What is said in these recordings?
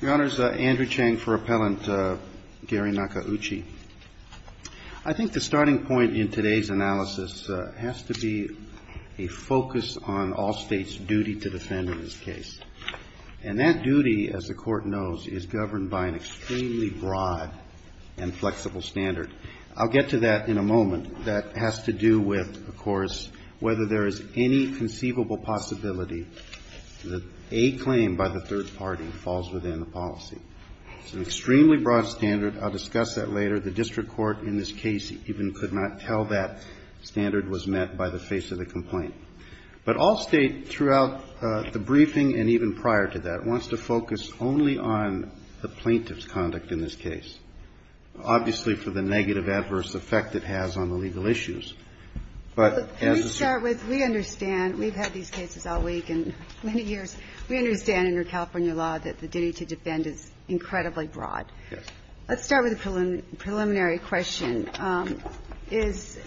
Your Honors, Andrew Chang for Appellant Gary Nakauchi. I think the starting point in today's analysis has to be a focus on Allstate's duty to defend in this case. And that duty, as the Court knows, is governed by an extremely broad and flexible standard. I'll get to that in a moment. That has to do with, of course, whether there is any conceivable possibility that a claim by the third party falls within the policy. It's an extremely broad standard. I'll discuss that later. The district court in this case even could not tell that standard was met by the face of the complaint. But Allstate, throughout the briefing and even prior to that, wants to focus only on the plaintiff's conduct in this case. Obviously, for the negative adverse effect it has on the legal issues. But as a... We understand. We've had these cases all week and many years. We understand under California law that the duty to defend is incredibly broad. Yes. Let's start with a preliminary question. Is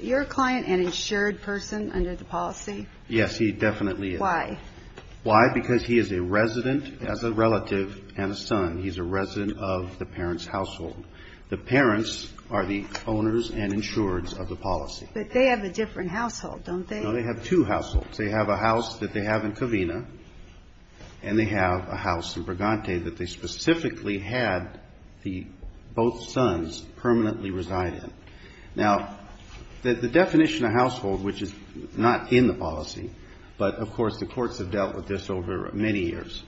your client an insured person under the policy? Yes, he definitely is. Why? Why? Because he is a resident as a relative and a son. He's a resident of the parent's household. The parents are the owners and insureds of the policy. But they have a different household, don't they? No, they have two households. They have a house that they have in Covina, and they have a house in Brigante that they specifically had the both sons permanently reside in. Now, the definition of household, which is not in the policy, but of course the courts have dealt with this over many years,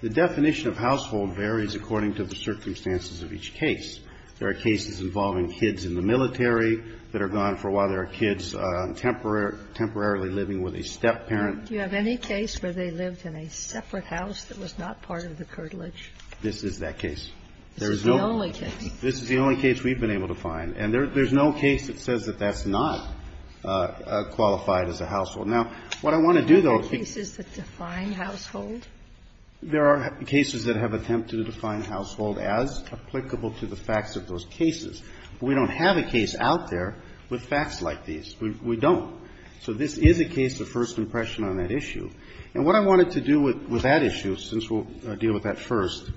the definition of household varies according to the circumstances of each case. There are cases involving kids in the military that are gone for a while. There are kids temporarily living with a stepparent. Do you have any case where they lived in a separate house that was not part of the curtilage? This is that case. This is the only case. This is the only case we've been able to find. And there's no case that says that that's not qualified as a household. Now, what I want to do, though Are there cases that define household? There are cases that have attempted to define household as applicable to the facts of those cases. We don't have a case out there with facts like these. We don't. So this is a case of first impression on that issue. And what I wanted to do with that issue, since we'll deal with that first,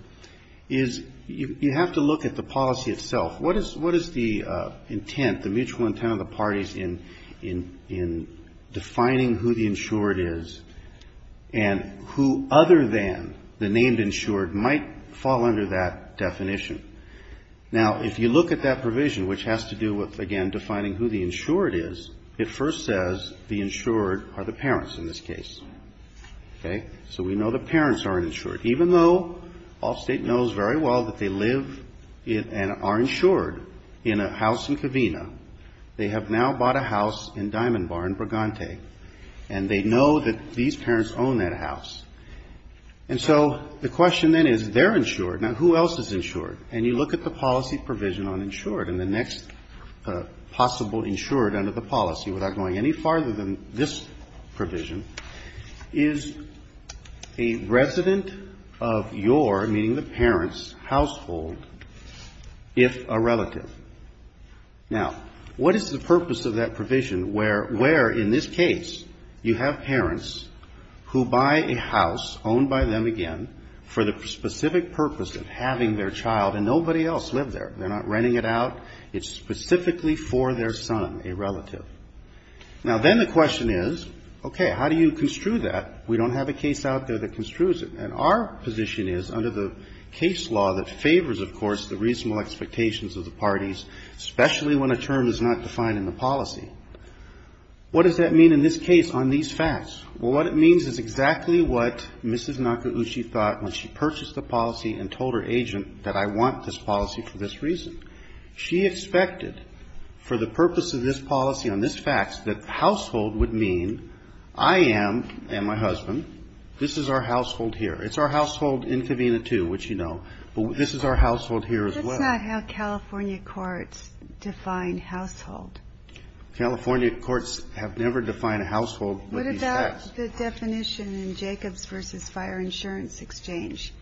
is you have to look at the policy itself. What is the intent, the mutual intent of the parties in defining who the insured is and who other than the named insured might fall under that definition? Now, if you look at that provision, which has to do with, again, defining who the insured is, it first says the insured are the parents in this case. Okay? So we know the parents are insured. Even though Allstate knows very well that they live and are insured in a house in Covina, they have now bought a house in Diamond Bar in Bragante, and they know that these parents own that house. And so the question then is, they're insured. Now, who else is insured? And you look at the policy provision on insured and the next possible insured under the policy, without going any farther than this provision, is a resident of your, meaning the parents' household, if a relative. Now, what is the purpose of that provision where, in this case, you have parents who buy a house owned by them, again, for the specific purpose of having their child, and nobody else lived there. They're not renting it out. It's specifically for their son, a relative. Now, then the question is, okay, how do you construe that? We don't have a case out there that construes it. And our position is, under the case law that favors, of course, the reasonable expectations of the parties, especially when a term is not defined in the policy, what does that mean that I want this policy for this reason? She expected, for the purpose of this policy on this fax, that household would mean I am, and my husband, this is our household here. It's our household in Covina, too, which you know. But this is our household here as well. That's not how California courts define household. California courts have never defined a household with these fax. The definition in Jacobs v. Fire Insurance Exchange,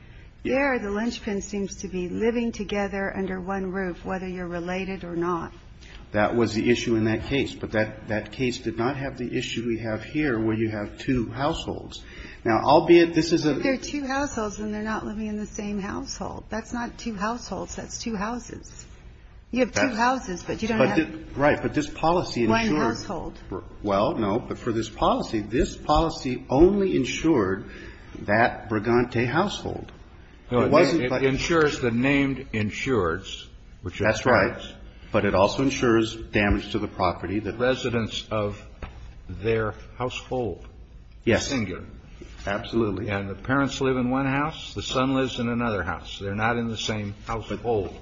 there the linchpin seems to be living together under one roof, whether you're related or not. That was the issue in that case. But that case did not have the issue we have here, where you have two households. Now, albeit this is a... They're two households, and they're not living in the same household. That's not two households. That's two houses. You have two houses, but you don't Right. But this policy... One household. Well, no. But for this policy, this policy only insured that Brigante household. It wasn't... It insures the named insureds. That's right. But it also insures damage to the property that... Residents of their household. Yes. Singular. Absolutely. And the parents live in one house. The son lives in another house. They're not in the same household.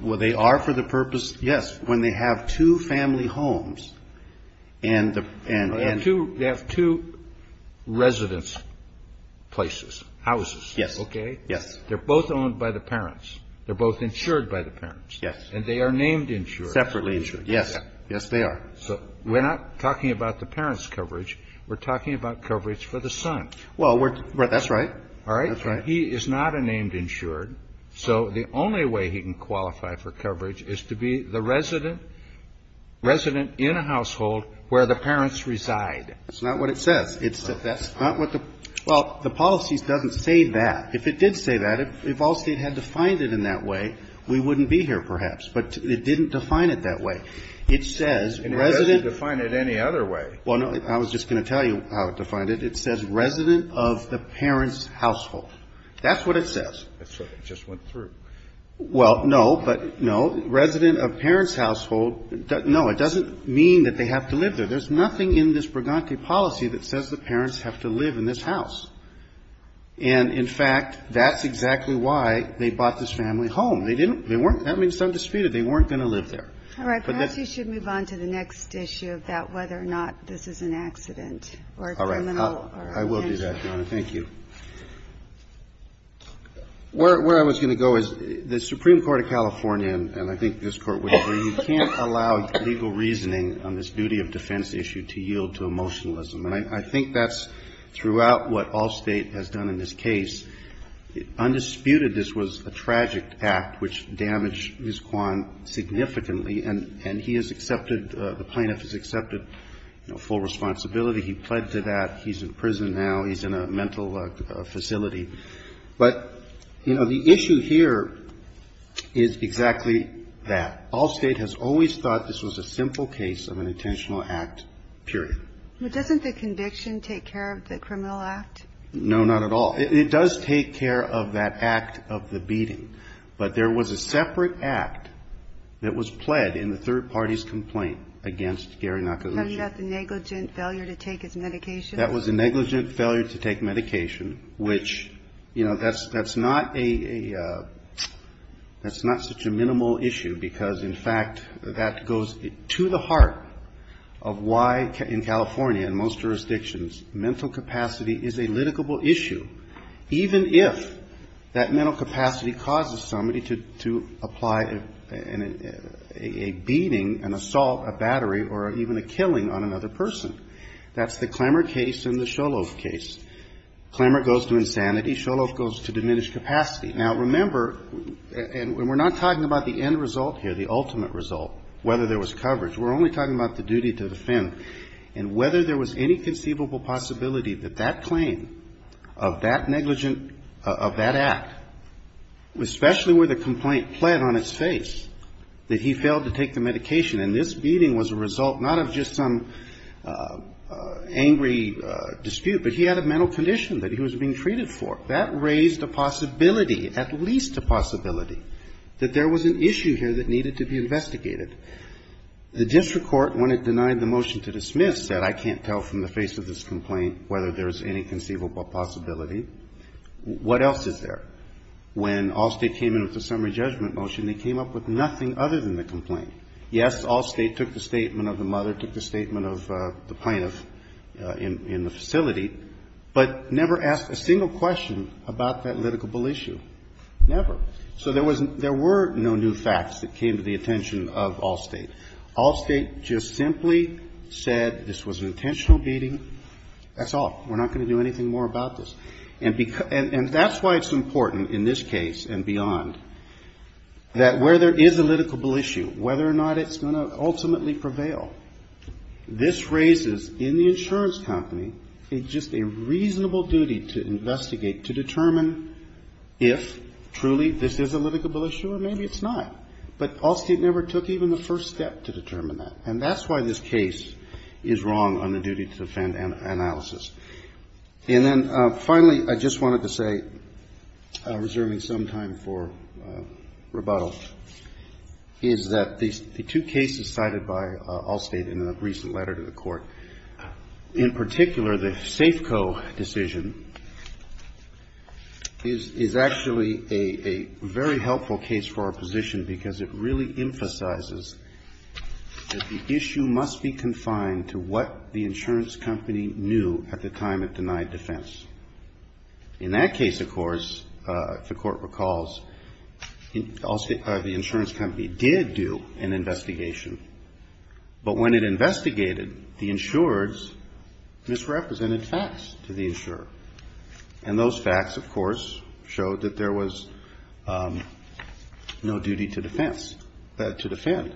Well, they are for the purpose... Yes. When they have two family homes and... They have two residence places, houses. Yes. Okay? Yes. They're both owned by the parents. They're both insured by the parents. Yes. And they are named insured. Separately insured. Yes. Yes, they are. So we're not talking about the parents' coverage. We're talking about coverage for the son. Well, we're... That's right. All right? That's right. So the only way he can qualify for coverage is to be the resident in a household where the parents reside. That's not what it says. That's not what the... Well, the policy doesn't say that. If it did say that, if Allstate had defined it in that way, we wouldn't be here perhaps. But it didn't define it that way. It says resident... It doesn't define it any other way. Well, no. I was just going to tell you how it defined it. It says resident of the parents' household. That's what it says. That's what it just went through. Well, no, but no. Resident of parents' household. No, it doesn't mean that they have to live there. There's nothing in this Braganti policy that says the parents have to live in this house. And, in fact, that's exactly why they bought this family home. They didn't... They weren't... That means it's undisputed. They weren't going to live there. All right. Perhaps you should move on to the next issue of that, whether or not this is an accident or a criminal... All right. I will do that, Donna. Thank you. Where I was going to go is the Supreme Court of California, and I think this Court would agree, you can't allow legal reasoning on this duty of defense issue to yield to emotionalism. And I think that's throughout what all State has done in this case. Undisputed, this was a tragic act which damaged Ms. Kwan significantly. And he has accepted, the plaintiff has accepted, you know, full responsibility. He pled to that. He's in prison now. He's in a mental facility. But, you know, the issue here is exactly that. All State has always thought this was a simple case of an intentional act, period. But doesn't the conviction take care of the criminal act? No, not at all. It does take care of that act of the beating. But there was a separate act that was pled in the third party's complaint against Gary Nakaluji. Have you got the negligent failure to take his medication? That was a negligent failure to take medication, which, you know, that's not a minimal issue, because, in fact, that goes to the heart of why in California and most jurisdictions mental capacity is a litigable issue, even if that mental capacity causes somebody to apply a beating, an assault, a battery, or even a killing on another person. That's the Klemmer case and the Sholof case. Klemmer goes to insanity. Sholof goes to diminished capacity. Now, remember, and we're not talking about the end result here, the ultimate result, whether there was coverage. We're only talking about the duty to defend. And whether there was any conceivable possibility that that claim of that negligent, of that act, especially where the complaint pled on its face, that he failed to take the medication, and this beating was a result not of just some angry dispute, but he had a mental condition that he was being treated for. That raised a possibility, at least a possibility, that there was an issue here that needed to be investigated. The district court, when it denied the motion to dismiss, said, I can't tell from the face of this complaint whether there's any conceivable possibility. What else is there? When Allstate came in with the summary judgment motion, they came up with nothing other than the complaint. Yes, Allstate took the statement of the mother, took the statement of the plaintiff in the facility, but never asked a single question about that litigable issue. Never. So there were no new facts that came to the attention of Allstate. Allstate just simply said this was an intentional beating. That's all. We're not going to do anything more about this. And that's why it's important in this case and beyond that where there is a litigable issue, whether or not it's going to ultimately prevail. This raises in the insurance company just a reasonable duty to investigate, to determine if truly this is a litigable issue, or maybe it's not. But Allstate never took even the first step to determine that. And that's why this case is wrong on the duty to defend analysis. And then finally, I just wanted to say, reserving some time for rebuttal, is that the two cases cited by Allstate in a recent letter to the Court, in particular, the Safeco decision is actually a very helpful case for our position, because it really emphasizes that the issue must be confined to what the insurance company knew at the time it denied defense. In that case, of course, if the Court recalls, the insurance company did do an investigation. But when it investigated, the insureds misrepresented facts to the insurer. And those facts, of course, showed that there was no duty to defense, to defend.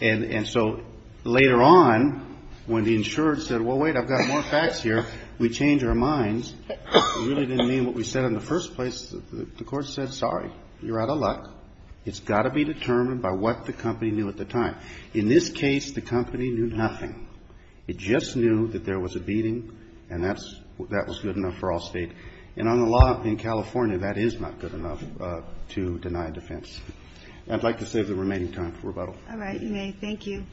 And so later on, when the insured said, well, wait, I've got more facts here, we changed our minds. It really didn't mean what we said in the first place. The Court said, sorry, you're out of luck. It's got to be determined by what the company knew at the time. In this case, the company knew nothing. It just knew that there was a beating, and that was good enough for Allstate. And on the law in California, that is not good enough to deny defense. I'd like to save the remaining time for rebuttal. All right. You may. Thank you.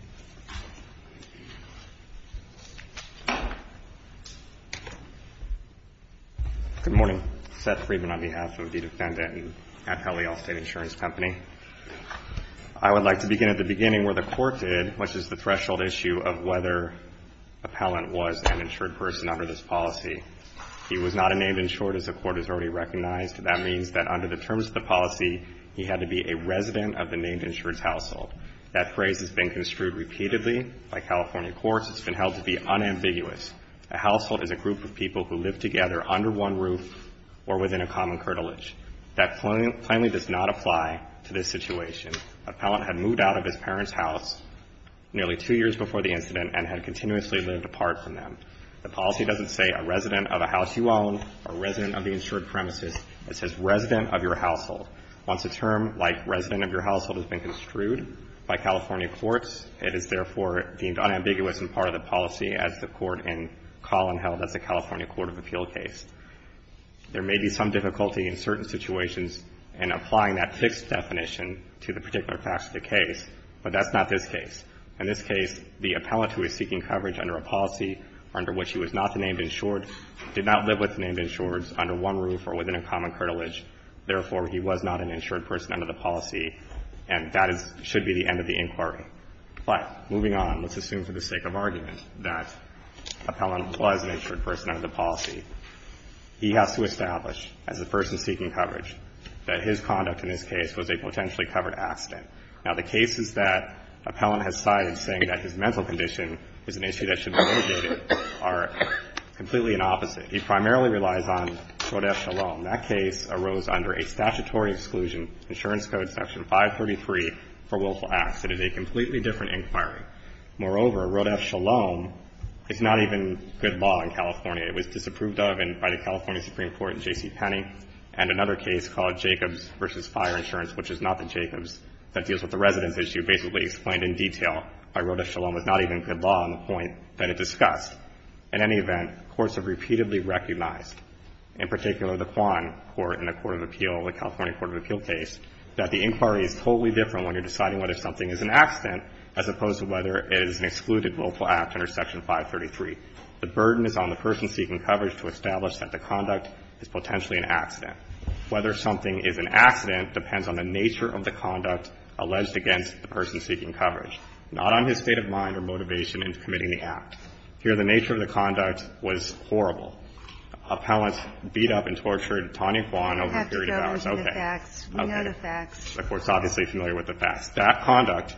Good morning. Seth Friedman on behalf of the defendant at Allstate Insurance Company. I would like to begin at the beginning where the Court did, which is the threshold issue of whether appellant was an insured person under this policy. He was not a named insured, as the Court has already recognized. That means that under the terms of the policy, he had to be a resident of the named insured's household. That phrase has been construed repeatedly by California courts. It's been held to be unambiguous. A household is a group of people who live together under one roof or within a common curtilage. That plainly does not apply to this situation. Appellant had moved out of his parents' house nearly two years before the incident and had continuously lived apart from them. The policy doesn't say a resident of a house you own, a resident of the insured premises. It says resident of your household. Once a term like resident of your household has been construed by California courts, it is therefore deemed unambiguous and part of the policy as the Court in Collin held as the California Court of Appeal case. There may be some difficulty in certain situations in applying that fixed definition to the particular facts of the case, but that's not this case. In this case, the appellant who is seeking coverage under a policy under which he was not the named insured, did not live with the named insured's under one roof or within a common curtilage. Therefore, he was not an insured person under the policy, and that should be the end of the inquiry. But moving on, let's assume for the sake of argument that appellant was an insured person under the policy. He has to establish as a person seeking coverage that his conduct in this case was a potentially covered accident. Now, the cases that appellant has cited saying that his mental condition is an issue that should be mitigated are completely an opposite. He primarily relies on Rodeff-Shalom. That case arose under a statutory exclusion, Insurance Code Section 533 for Willful Acts. It is a completely different inquiry. Moreover, Rodeff-Shalom is not even good law in California. It was disapproved of by the California Supreme Court in J.C. Penney, and another case called Jacobs v. Fire Insurance, which is not the Jacobs, that deals with the residence issue, basically explained in detail by Rodeff-Shalom was not even good law on the point that it discussed. In any event, courts have repeatedly recognized, in particular the Quan Court in the Court of Appeal, the California Court of Appeal case, that the inquiry is totally different when you're deciding whether something is an accident as opposed to whether it is an excluded willful act under Section 533. The burden is on the person seeking coverage to establish that the conduct is potentially an accident. Whether something is an accident depends on the nature of the conduct alleged against the person seeking coverage, not on his state of mind or motivation in committing the act. Here, the nature of the conduct was horrible. Appellants beat up and tortured Tanya Quan over a period of hours. Okay. Okay. The Court's obviously familiar with the facts. That conduct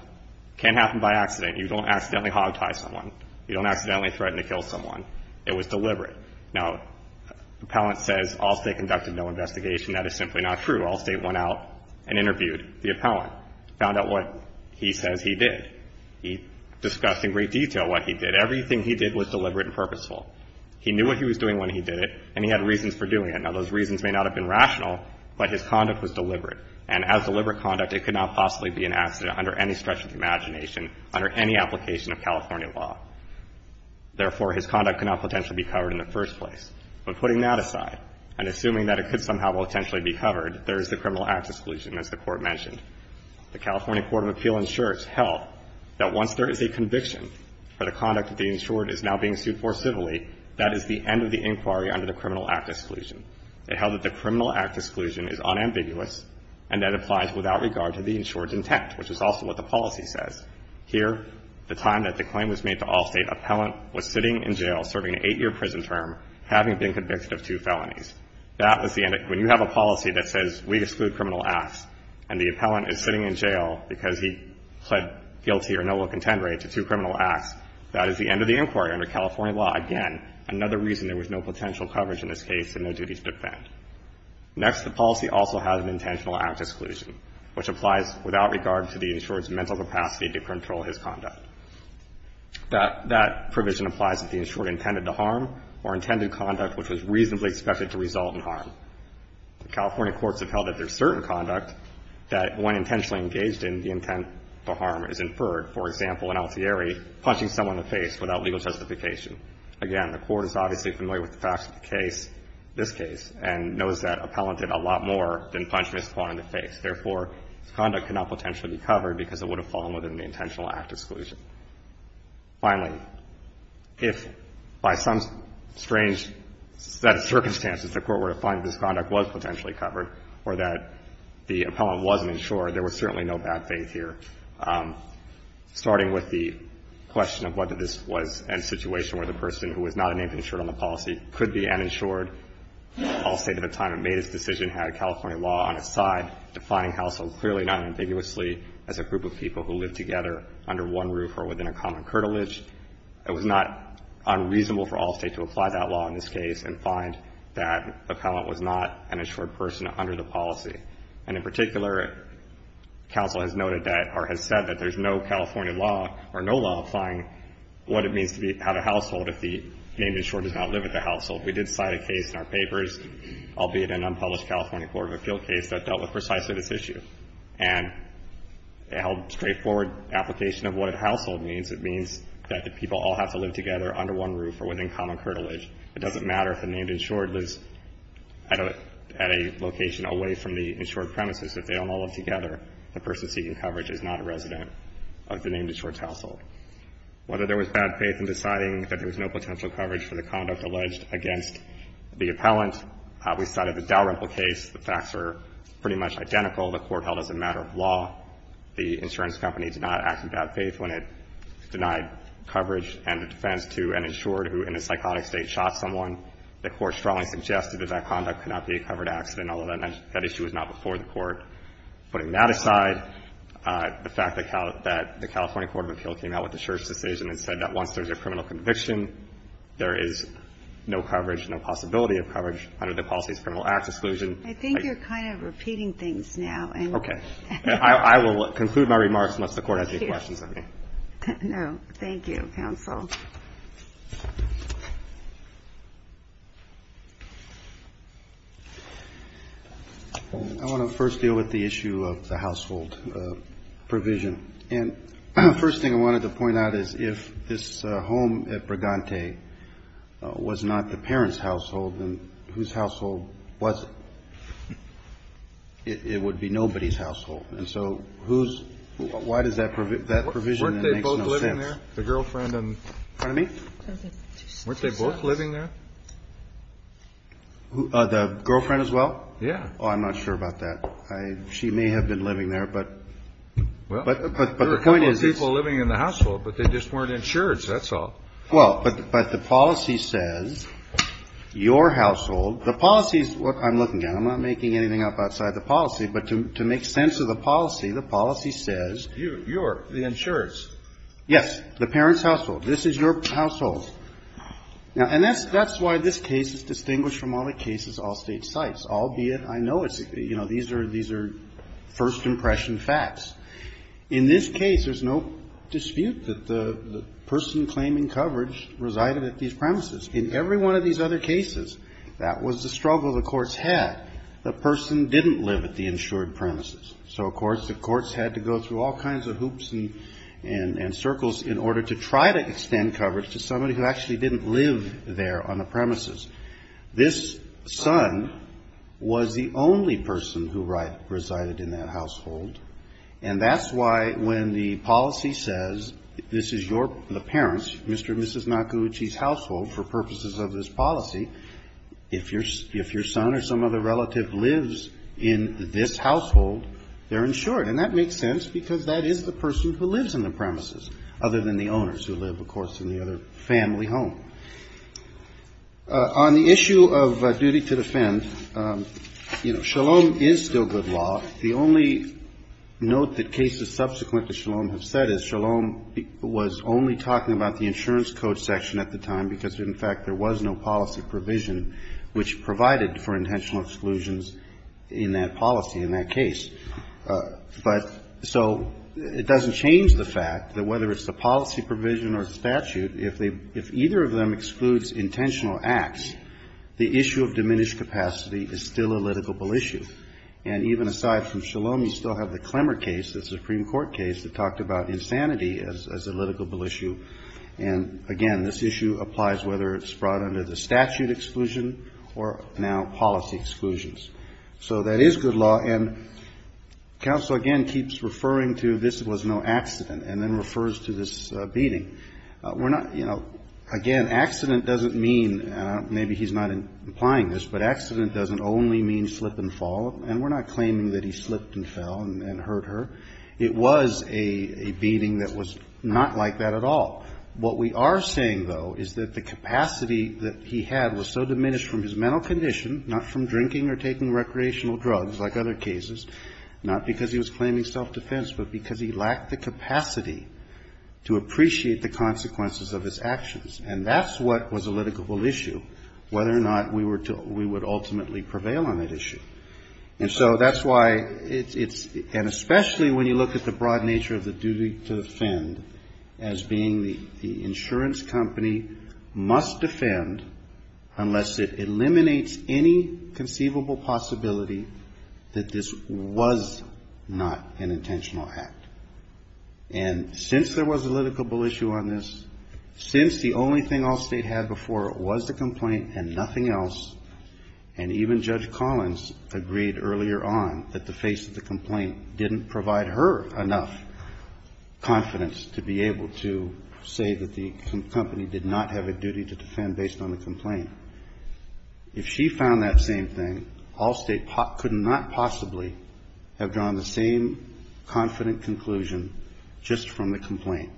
can happen by accident. You don't accidentally hogtie someone. You don't accidentally threaten to kill someone. It was deliberate. Now, Appellant says all State conducted no investigation. That is simply not true. All State went out and interviewed the Appellant, found out what he says he did. He discussed in great detail what he did. Everything he did was deliberate and purposeful. He knew what he was doing when he did it, and he had reasons for doing it. Now, those reasons may not have been rational, but his conduct was deliberate. And as deliberate conduct, it could not possibly be an accident under any stretch of the imagination, under any application of California law. Therefore, his conduct could not potentially be covered in the first place. But putting that aside and assuming that it could somehow potentially be covered, there is the criminal act exclusion, as the Court mentioned. The California Court of Appeal ensures, held, that once there is a conviction for the conduct that the insured is now being sued for civilly, that is the end of the inquiry under the criminal act exclusion. It held that the criminal act exclusion is unambiguous and that it applies without regard to the insured's intent, which is also what the policy says. Here, the time that the claim was made to Allstate, appellant was sitting in jail serving an eight-year prison term, having been convicted of two felonies. That was the end of it. When you have a policy that says we exclude criminal acts, and the appellant is sitting in jail because he pled guilty or no will contend right to two criminal acts, that is the end of the inquiry under California law, again, another reason there was no potential coverage in this case and no duties to defend. Next, the policy also has an intentional act exclusion, which applies without regard to the insured's mental capacity to control his conduct. That provision applies if the insured intended to harm or intended conduct which was reasonably expected to result in harm. The California courts have held that there is certain conduct that, when intentionally engaged in the intent to harm, is inferred. For example, in Altieri, punching someone in the face without legal justification. Again, the court is obviously familiar with the facts of the case, this case, and knows that appellant did a lot more than punch Ms. Kwan in the face. Therefore, his conduct could not potentially be covered because it would have fallen within the intentional act exclusion. Finally, if by some strange set of circumstances the court were to find that his conduct was potentially covered or that the appellant was an insurer, there was certainly no bad faith here, starting with the question of whether this was a situation where the person who was not named insured on the policy could be uninsured. Allstate at the time it made its decision had California law on its side, defining household clearly, not ambiguously, as a group of people who live together under one roof or within a common curtilage. It was not unreasonable for Allstate to apply that law in this case and find that appellant was not an insured person under the policy. And in particular, counsel has noted that or has said that there's no California law or no lawifying what it means to have a household if the named insured does not live at the household. We did cite a case in our papers, albeit an unpublished California court of appeal case, that dealt with precisely this issue. And it held straightforward application of what a household means. It means that people all have to live together under one roof or within common curtilage. It doesn't matter if the named insured lives at a location away from the insured premises. If they don't all live together, the person seeking coverage is not a resident of the named insured's household. Whether there was bad faith in deciding that there was no potential coverage for the named insured or whether there was bad faith against the appellant, we cited the Dalrymple case. The facts are pretty much identical. The Court held as a matter of law the insurance company did not act in bad faith when it denied coverage and a defense to an insured who in a psychotic state shot someone. The Court strongly suggested that that conduct could not be a covered accident, although that issue was not before the Court. Putting that aside, the fact that the California court of appeal came out with the possibility of coverage under the policies of criminal acts exclusion. I think you're kind of repeating things now. Okay. I will conclude my remarks unless the Court has any questions of me. No. Thank you, counsel. I want to first deal with the issue of the household provision. And the first thing I wanted to point out is if this home at Brigante was not the parent's household, then whose household was it? It would be nobody's household. And so why does that provision make no sense? Weren't they both living there, the girlfriend in front of me? Weren't they both living there? The girlfriend as well? Yeah. Oh, I'm not sure about that. I don't know. She may have been living there, but the point is it's. Well, there are a couple of people living in the household, but they just weren't insured, so that's all. Well, but the policy says your household. The policy is what I'm looking at. I'm not making anything up outside the policy, but to make sense of the policy, the policy says. Your. The insurer's. Yes. The parent's household. This is your household. And that's why this case is distinguished from all the cases of all State sites, albeit I know it's, you know, these are first impression facts. In this case, there's no dispute that the person claiming coverage resided at these premises. In every one of these other cases, that was the struggle the courts had. The person didn't live at the insured premises. So, of course, the courts had to go through all kinds of hoops and circles in order to try to extend coverage to somebody who actually didn't live there on the premises. This son was the only person who resided in that household. And that's why when the policy says this is your, the parent's, Mr. and Mrs. Nakaguchi's household for purposes of this policy, if your son or some other relative lives in this household, they're insured. And that makes sense because that is the person who lives in the premises, other than the owners who live, of course, in the other family home. On the issue of duty to defend, you know, Shalom is still good law. The only note that cases subsequent to Shalom have said is Shalom was only talking about the insurance code section at the time because, in fact, there was no policy provision which provided for intentional exclusions in that policy, in that case. But so it doesn't change the fact that whether it's the policy provision or statute, if either of them excludes intentional acts, the issue of diminished capacity is still a litigable issue. And even aside from Shalom, you still have the Klemmer case, the Supreme Court case, that talked about insanity as a litigable issue. And, again, this issue applies whether it's brought under the statute exclusion or now policy exclusions. So that is good law. And counsel, again, keeps referring to this was no accident and then refers to this beating. We're not, you know, again, accident doesn't mean, maybe he's not implying this, but accident doesn't only mean slip and fall. And we're not claiming that he slipped and fell and hurt her. It was a beating that was not like that at all. What we are saying, though, is that the capacity that he had was so diminished from his mental condition, not from drinking or taking recreational drugs like other cases, not because he was claiming self-defense, but because he lacked the capacity to appreciate the consequences of his actions. And that's what was a litigable issue, whether or not we would ultimately prevail on that issue. And so that's why it's – and especially when you look at the broad nature of the duty to defend as being the insurance company must defend unless it eliminates any conceivable possibility that this was not an intentional act. And since there was a litigable issue on this, since the only thing Allstate had before was the complaint and nothing else, and even Judge Collins agreed earlier on that the face of the complaint didn't provide her enough confidence to be able to say that the company did not have a duty to defend based on the complaint, if she found that same thing, Allstate could not possibly have drawn the same confident conclusion just from the complaint.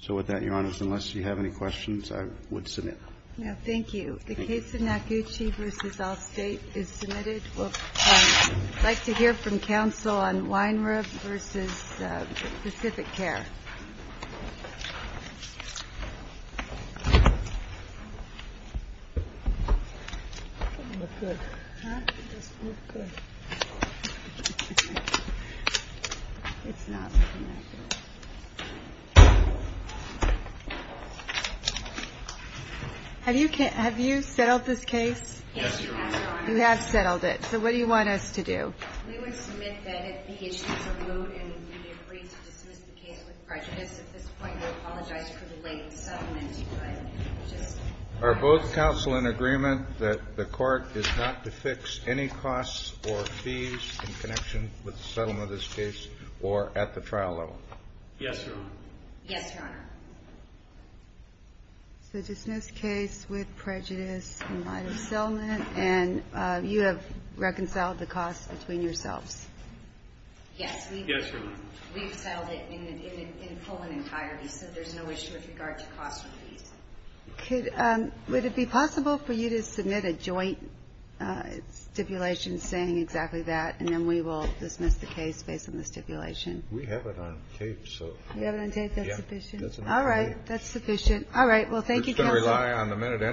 So with that, Your Honors, unless you have any questions, I would submit. Thank you. The case of Nacucci v. Allstate is submitted. We'd like to hear from counsel on Weinreb v. Pacific Care. Have you settled this case? Yes, Your Honor. You have settled it. So what do you want us to do? We would submit that if the issues are moved and you agree to dismiss the case with prejudice at this point, we apologize for the late settlement. Are both counsel in agreement that the Court is not to fix any costs or fees in connection with the settlement of this case or at the trial level? Yes, Your Honor. Yes, Your Honor. So dismiss the case with prejudice in light of settlement, and you have reconciled Yes. Yes, Your Honor. We've settled it in full and entirety, so there's no issue with regard to costs or fees. Would it be possible for you to submit a joint stipulation saying exactly that, and then we will dismiss the case based on the stipulation? We have it on tape. You have it on tape? That's sufficient? Yes. All right. That's sufficient. All right. Well, thank you, counsel.